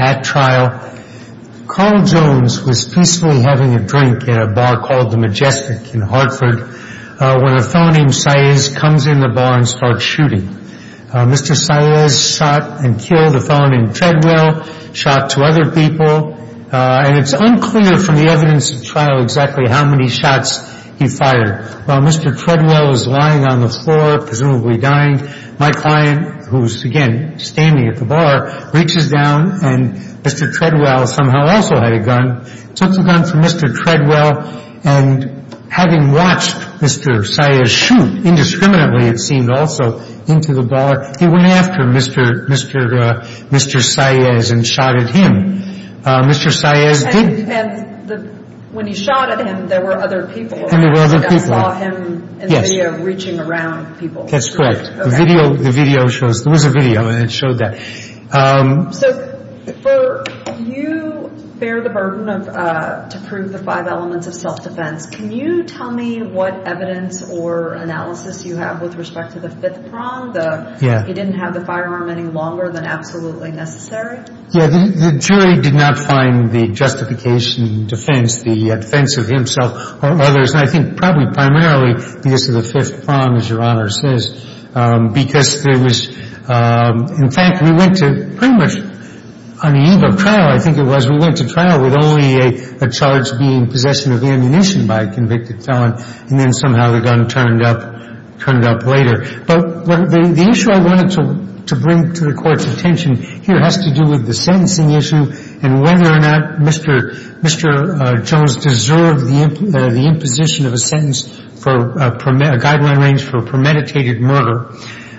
at trial. Carl Jones was peacefully having a drink at a bar called the Majestic in Hartford when a fellow named Saez comes in the bar and starts shooting. Mr. Saez shot and killed a fellow named Treadwell, shot two other people, and it's unclear from the evidence at trial exactly how many shots he fired. While Mr. Treadwell is lying on the floor, presumably dying, my client, who's again standing at the bar, reaches down and Mr. Treadwell somehow also had a gun, took the gun from Mr. Treadwell, and having watched Mr. Saez shoot indiscriminately it seemed also, into the bar. He went after Mr. Saez and shot at him. Mr. Saez did And when he shot at him, there were other people around. And there were other people. I saw him in the video reaching around people. That's correct. The video shows, there was a video and it showed that. So for you bear the burden of, to prove the five elements of self-defense, can you tell me what evidence or analysis you have with respect to the fifth prong, the he didn't have the firearm any longer than absolutely necessary? Yeah. The jury did not find the justification in defense, the defense of himself or others. And I think probably primarily because of the fifth prong, as Your Honor says, because there was, in fact, we went to pretty much, on the eve of trial, I think it was, we went by a convicted felon, and then somehow the gun turned up, turned up later. But the issue I wanted to bring to the Court's attention here has to do with the sentencing issue and whether or not Mr. Jones deserved the imposition of a sentence for a guideline range for a premeditated murder.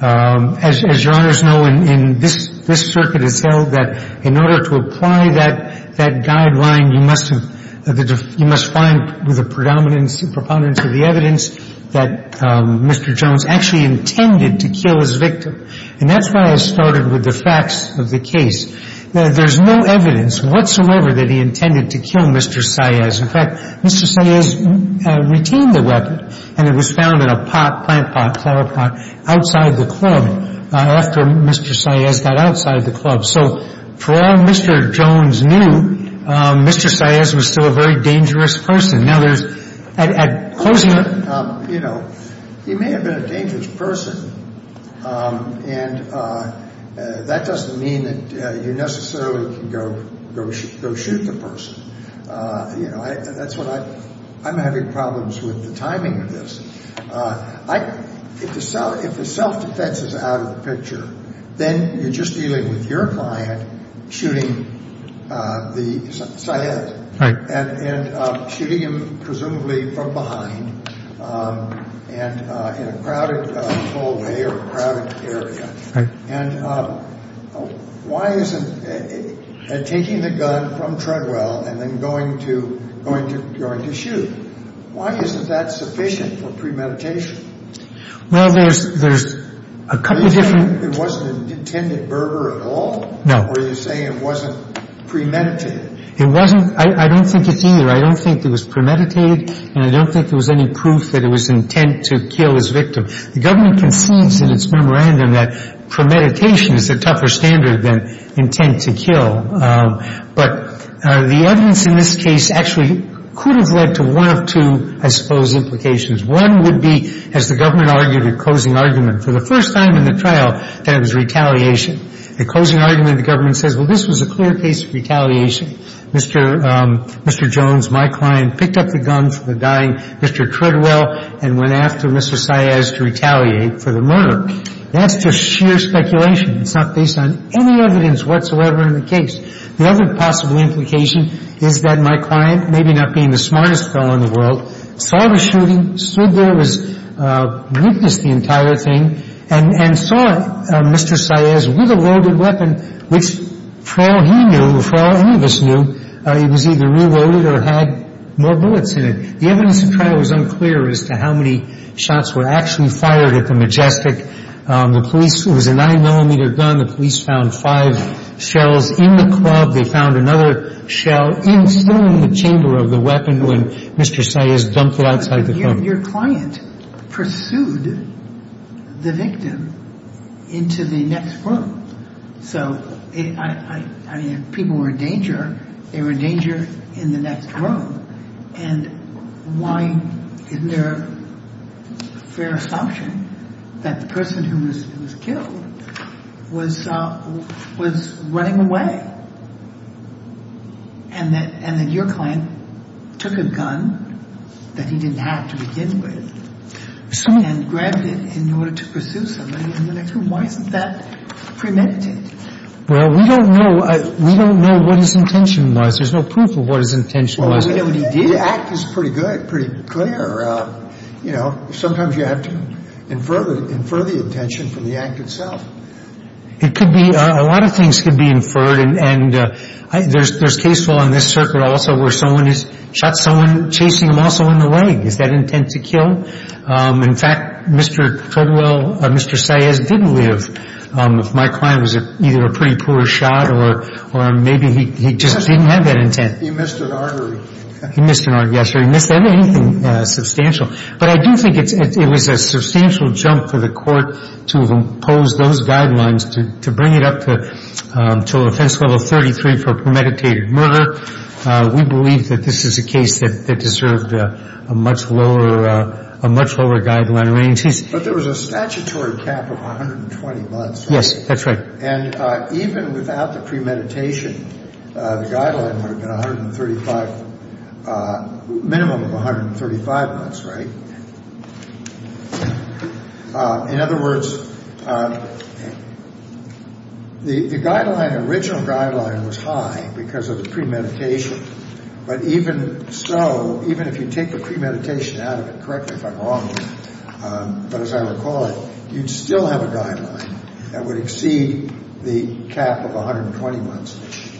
As Your Honors know, in this circuit it's held that in order to apply that guideline, you must have, you must have a premeditated murder. And you must find with the predominance, proponents of the evidence that Mr. Jones actually intended to kill his victim. And that's why I started with the facts of the case. There's no evidence whatsoever that he intended to kill Mr. Saez. In fact, Mr. Saez retained the weapon, and it was found in a pot, plant pot, flower pot, outside the club after Mr. Saez got outside the club. So for all Mr. Jones knew, Mr. Saez was still a very dangerous person. Now, there's at closing the you know, he may have been a dangerous person, and that doesn't mean that you necessarily can go shoot the person. You know, that's what I'm having problems with the timing of this. If the self-defense is out of the picture, then you're just dealing with your client shooting the Saez. Right. And shooting him presumably from behind and in a crowded hallway or a crowded area. Right. And why isn't taking the gun from Treadwell and then going to, going to, going to shoot, why isn't that sufficient for premeditation? Well, there's, there's a couple of different reasons. One is that the evidence in this case actually could have led to one of two, I suppose, implications. One would be, as the government argued at closing argument, for the first time in the trial, the evidence in this case actually could have led to one of two implications. The first was that it was retaliation. The closing argument, the government says, well, this was a clear case of retaliation. Mr. Jones, my client, picked up the gun from the dying Mr. Treadwell and went after Mr. Saez to retaliate for the murder. That's just sheer speculation. It's not based on any evidence whatsoever in the case. The other possible implication is that my client, maybe not being the smartest fellow in the world, saw the shooting, stood there, witnessed the entire thing, and, and saw Mr. Saez with a loaded weapon which, for all he knew, for all any of us knew, it was either reloaded or had more bullets in it. The evidence in the trial was unclear as to how many shots were actually fired at the Majestic. The police, it was a nine-millimeter gun. The police found five shells in the club. They found another shell still in the chamber of the weapon when Mr. Saez dumped it outside the club. Your client pursued the victim into the next room. So, I mean, if people were in danger, they were in danger in the next room. And why isn't there a fair assumption that the person who was killed was, was running away? And that, and that your client took a gun that he didn't have to begin with and grabbed it in order to pursue somebody in the next room? Why isn't that premeditated? Well, we don't know, we don't know what his intention was. There's no proof of what his intention was. We don't know what he did. The act is pretty good, pretty clear. You know, sometimes you have to infer the intention from the act itself. It could be, a lot of things could be inferred. And there's, there's case law in this circuit also where someone is, shot someone chasing them also in the leg. Is that intent to kill? In fact, Mr. Caldwell, Mr. Saez didn't live. If my client was either a pretty poor shot or maybe he just didn't have that intent. He missed an artery. He missed an artery, yes, sir. He missed anything substantial. But I do think it's, it was a substantial jump for the court to have imposed those guidelines to, to bring it up to, to offense level 33 for premeditated murder. We believe that this is a case that, that deserved a much lower, a much lower guideline range. But there was a statutory cap of 120 months. Yes, that's right. And even without the premeditation, the guideline would have been 135, minimum of 135 months, right? In other words, the guideline, the original guideline was high because of the premeditation. But even so, even if you take the premeditation out of it, correct me if I'm wrong, but as I recall it, you'd still have a guideline that would exceed the cap of 120 months,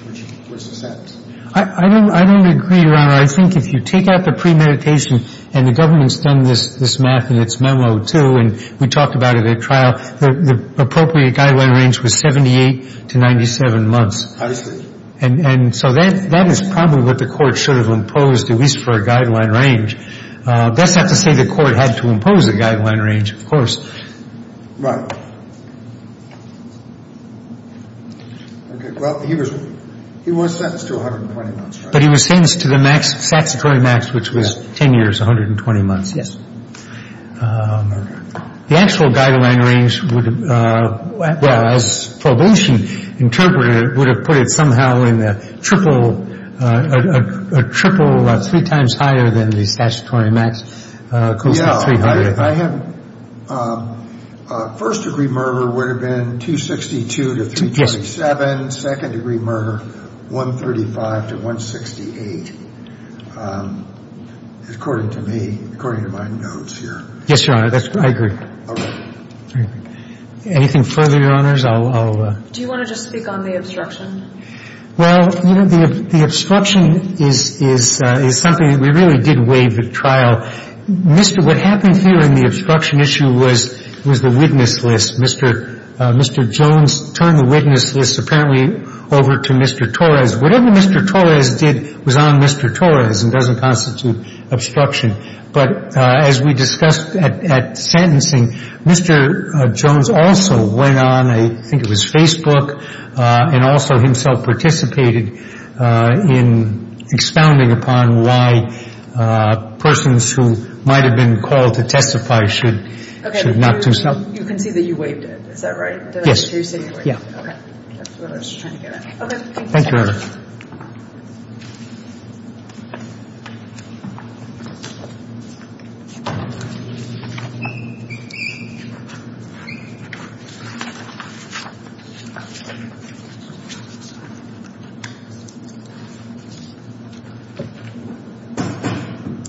which makes sense. I don't, I don't agree, Your Honor. I think if you take out the premeditation, and the government's done this, this math in its memo too, and we talked about it at trial, the appropriate guideline range was 78 to 97 months. I see. And so that, that is probably what the court should have imposed, at least for a guideline range. That's not to say the court had to impose a guideline range, of course. Okay. Well, he was, he was sentenced to 120 months, right? But he was sentenced to the max, statutory max, which was 10 years, 120 months. Yes. The actual guideline range would have, well, as probation interpreted it, would have put it somehow in the triple, triple, three times higher than the statutory max. I have, first degree murder would have been 262 to 327. Second degree murder, 135 to 168, according to me, according to my notes here. Yes, Your Honor, that's, I agree. All right. Anything further, Your Honors? I'll, I'll. Do you want to just speak on the obstruction? Well, you know, the obstruction is, is, is something that we really did waive at trial. Mr. What happened here in the obstruction issue was, was the witness list. Mr. Jones turned the witness list apparently over to Mr. Torres. Whatever Mr. Torres did was on Mr. Torres and doesn't constitute obstruction. But as we discussed at, at sentencing, Mr. Jones also went on, I think it was Facebook, and also himself participated in expounding upon why persons who might have been called to testify should, should not do so. You can see that you waived it. Is that right? Did I hear you say you waived it? Yeah. Okay. That's what I was trying to get at. Okay. Thank you. Thank you, Your Honor.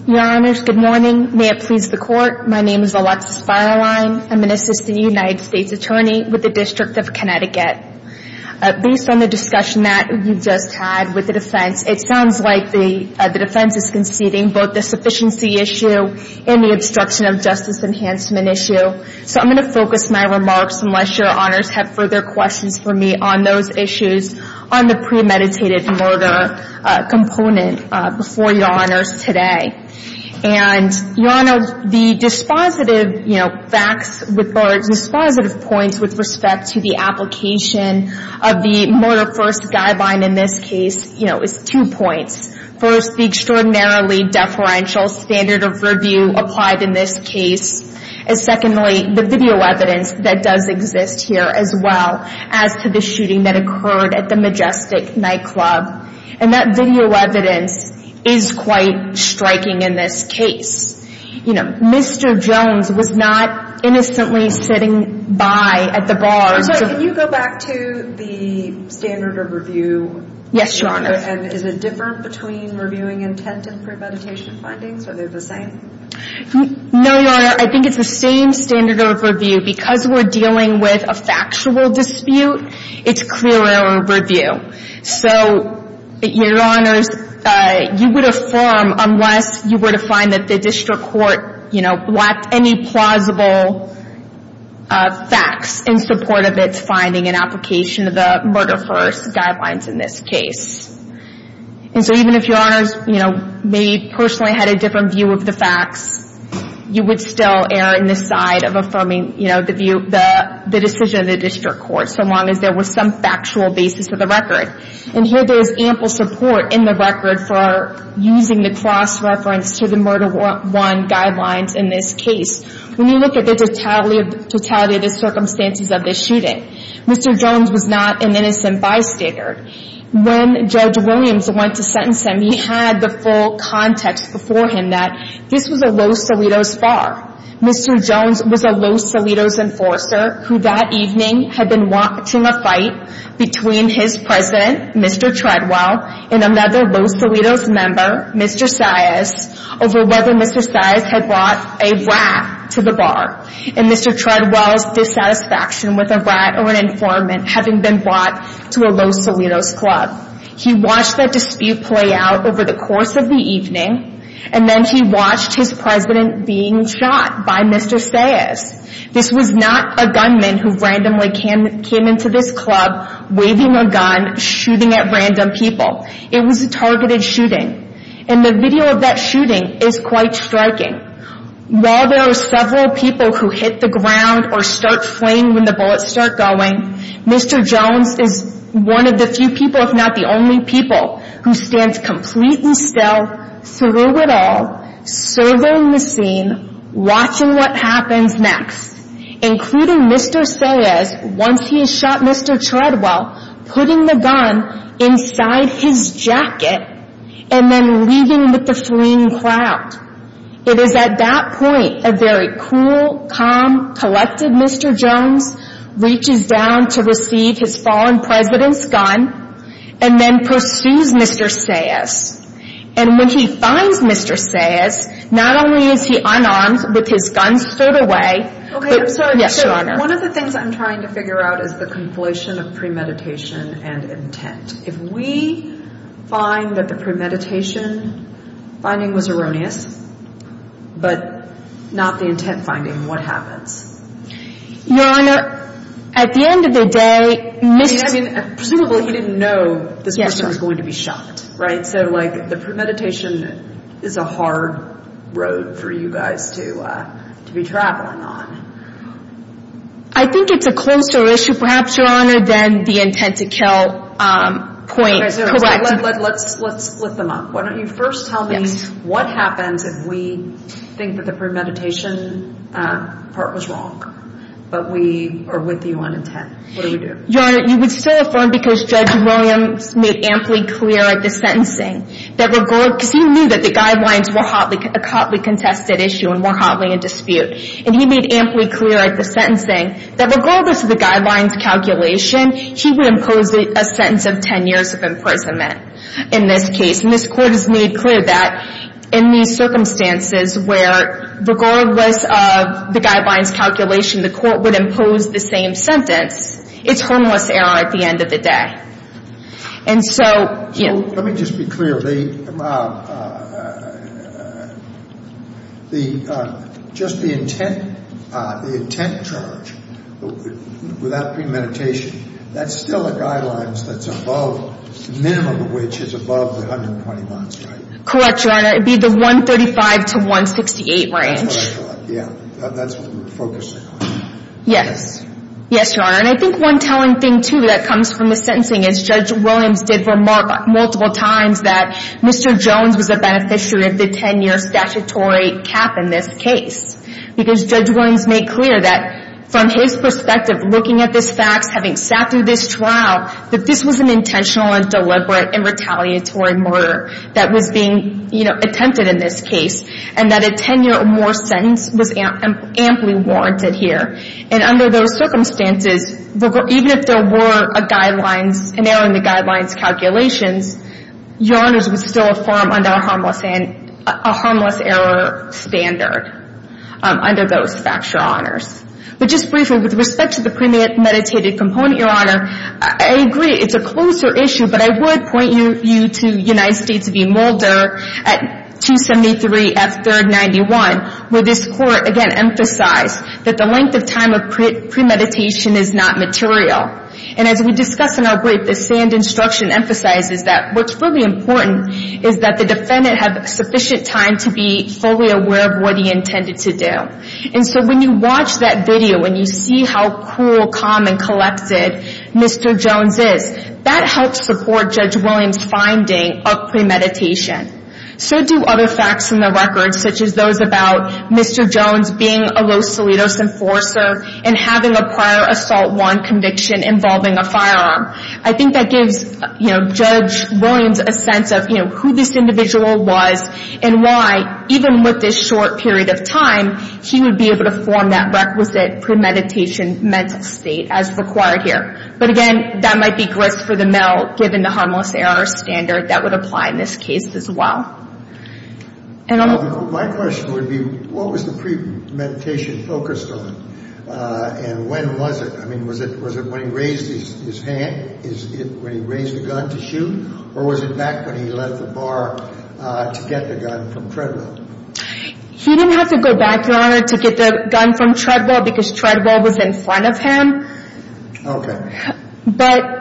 Your Honors, good morning. May it please the Court, my name is Alexis Feierlein. I'm an assistant United States attorney with the District of Connecticut. Based on the discussion that you just had with the defense, it sounds like the defense is conceding both the sufficiency issue and the obstruction of justice enhancement issue. So I'm going to focus my remarks, unless Your Honors have further questions for me, on those issues on the premeditated murder component before Your Honors today. And Your Honor, the dispositive, you know, facts, or dispositive points with respect to the application of the murder first guideline in this case, you know, is two points. First, the extraordinarily deferential standard of review applied in this case. And secondly, the video evidence that does exist here as well as to the shooting that occurred at the Majestic nightclub. And that video evidence is quite striking in this case. You know, Mr. Jones was not innocently sitting by at the bar. Can you go back to the standard of review? Yes, Your Honor. And is it different between reviewing intent and premeditation findings? Are they the same? No, Your Honor. I think it's the same standard of review. Because we're dealing with a factual dispute, it's clearer review. So, Your Honors, you would affirm unless you were to find that the district court, you know, lacked any plausible facts in support of its finding and application of the murder first guidelines in this case. And so even if Your Honors, you know, maybe personally had a different view of the facts, you would still err in the side of affirming, you know, the view, the decision of the district court, so long as there was some factual basis of the record. And here there is ample support in the record for using the cross-reference to the murder one guidelines in this case. When you look at the totality of the circumstances of this shooting, Mr. Jones was not an innocent bystander. When Judge Williams went to sentence him, he had the full context before him that this was a Los Salidos far. Mr. Jones was a Los Salidos enforcer who that evening had been watching a fight between his president, Mr. Treadwell, and another Los Salidos member, Mr. Saez, over whether Mr. Saez had brought a rat to the bar. And Mr. Treadwell's dissatisfaction with a rat or an informant having been brought to a Los Salidos club. He watched that dispute play out over the course of the evening, and then he watched his president being shot by Mr. Saez. This was not a gunman who randomly came into this club, waving a gun, shooting at random people. It was a targeted shooting. And the video of that shooting is quite striking. While there are several people who hit the ground or start fleeing when the bullets start going, Mr. Jones is one of the few people, if not the only people, who stands completely still, through it all, serving the scene, watching what happens next. Including Mr. Saez, once he has shot Mr. Treadwell, putting the gun inside his jacket, and then leaving with the fleeing crowd. It is at that point, a very cool, calm, collected Mr. Jones reaches down to receive his fallen president's gun, and then pursues Mr. Saez. And when he finds Mr. Saez, not only is he unarmed with his gun stowed away... Okay, I'm sorry. Yes, Your Honor. One of the things I'm trying to figure out is the conflation of premeditation and intent. If we find that the premeditation finding was erroneous, but not the intent finding, what happens? Your Honor, at the end of the day... Presumably he didn't know this person was going to be shot, right? So the premeditation is a hard road for you guys to be traveling on. I think it's a closer issue, perhaps, Your Honor, than the intent to kill point. Let's split them up. Why don't you first tell me what happens if we think that the premeditation part was wrong, but we are with you on intent. What do we do? Your Honor, you would still affirm because Judge Williams made amply clear at the sentencing that regardless... Because he knew that the guidelines were a hotly contested issue and were hotly in dispute. And he made amply clear at the sentencing that regardless of the guidelines calculation, he would impose a sentence of 10 years of imprisonment in this case. And this Court has made clear that in these circumstances where regardless of the guidelines calculation, the Court would impose the same sentence, it's harmless error at the end of the day. And so... Let me just be clear. Just the intent charge without premeditation, that's still a guideline that's above, minimum of which is above the 120 months, right? Correct, Your Honor. It would be the 135 to 168 range. That's what we're focusing on. Yes. Yes, Your Honor. And I think one telling thing, too, that comes from the sentencing is Judge Williams did remark multiple times that Mr. Jones was a beneficiary of the 10-year statutory cap in this case. Because Judge Williams made clear that from his perspective, looking at this facts, having sat through this trial, that this was an intentional and deliberate and retaliatory murder that was being attempted in this case. And that a 10-year or more sentence was amply warranted here. And under those circumstances, even if there were an error in the guidelines calculations, Your Honors, it was still a form under a harmless error standard under those factual honors. But just briefly, with respect to the premeditated component, Your Honor, I agree it's a closer issue, but I would point you to United States v. Mulder at 273 at 3rd 91, where this court, again, emphasized that the length of time of premeditation is not material. And as we discussed in our break, the sand instruction emphasizes that what's really important is that the defendant had sufficient time to be fully aware of what he intended to do. And so when you watch that video and you see how cool, calm, and collected Mr. Jones is, that helps support Judge Williams' finding of premeditation. So do other facts in the record, such as those about Mr. Jones being a low-solidus enforcer and having a prior assault warrant conviction involving a firearm. I think that gives Judge Williams a sense of who this individual was and why, even with this short period of time, he would be able to form that requisite premeditation mental state as required here. But again, that might be grist for the mill, given the harmless error standard that would apply in this case as well. My question would be, what was the premeditation focused on? And when was it? I mean, was it when he raised his hand, when he raised the gun to shoot, or was it back when he left the bar to get the gun from Treadwell? He didn't have to go back, Your Honor, to get the gun from Treadwell because Treadwell was in front of him. Okay. But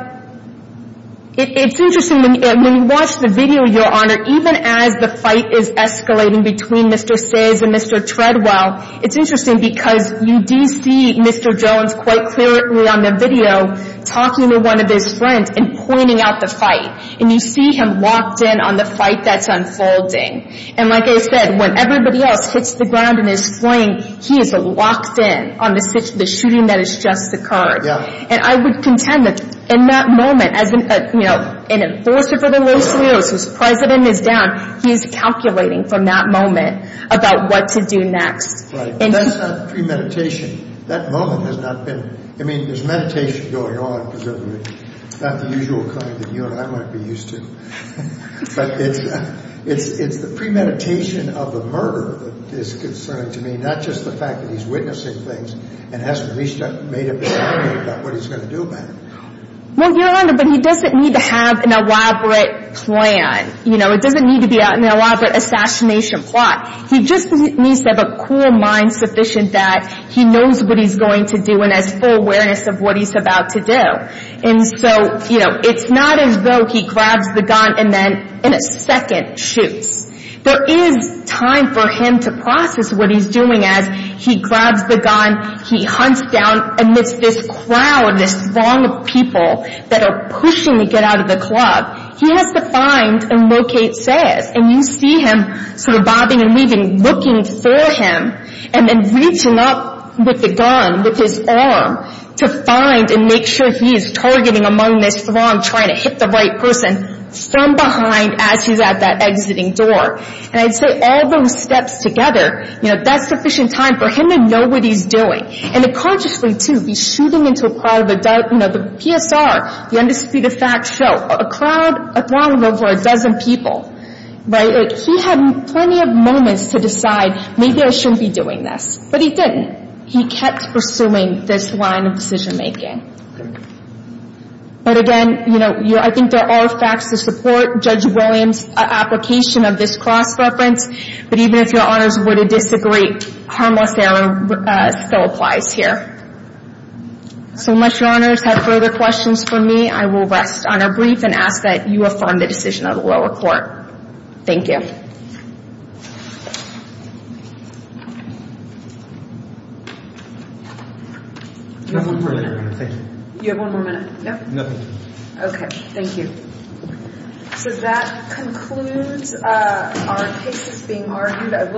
it's interesting. When you watch the video, Your Honor, even as the fight is escalating between Mr. Ciz and Mr. Treadwell, it's interesting because you do see Mr. Jones quite clearly on the video talking to one of his friends and pointing out the fight, and you see him locked in on the fight that's unfolding. And like I said, when everybody else hits the ground in his swing, he is locked in on the shooting that has just occurred. And I would contend that in that moment, as an enforcer for the Los Angeles whose president is down, he's calculating from that moment about what to do next. Right. But that's not premeditation. That moment has not been. I mean, there's meditation going on, presumably. It's not the usual kind that you and I might be used to. But it's the premeditation of the murder that is concerning to me, and not just the fact that he's witnessing things and hasn't at least made up his mind about what he's going to do about it. Well, Your Honor, but he doesn't need to have an elaborate plan. You know, it doesn't need to be an elaborate assassination plot. He just needs to have a cool mind sufficient that he knows what he's going to do and has full awareness of what he's about to do. And so, you know, it's not as though he grabs the gun and then in a second shoots. There is time for him to process what he's doing as he grabs the gun, he hunts down amidst this crowd, this throng of people that are pushing to get out of the club. He has to find and locate Sayers. And you see him sort of bobbing and weaving, looking for him, and then reaching up with the gun, with his arm, to find and make sure he is targeting among this throng trying to hit the right person from behind as he's at that exiting door. And I'd say all those steps together, you know, that's sufficient time for him to know what he's doing. And to consciously, too, be shooting into a crowd. You know, the PSR, the undisputed fact show, a crowd, a throng of over a dozen people, right? He had plenty of moments to decide, maybe I shouldn't be doing this. But he didn't. He kept pursuing this line of decision making. But again, you know, I think there are facts to support Judge Williams' application of this cross-reference. But even if Your Honors were to disagree, harmless error still applies here. So unless Your Honors have further questions for me, I will rest on a brief and ask that you affirm the decision of the lower court. Thank you. Thank you. Do you have one more minute? No. Okay. Thank you. So that concludes our cases being argued.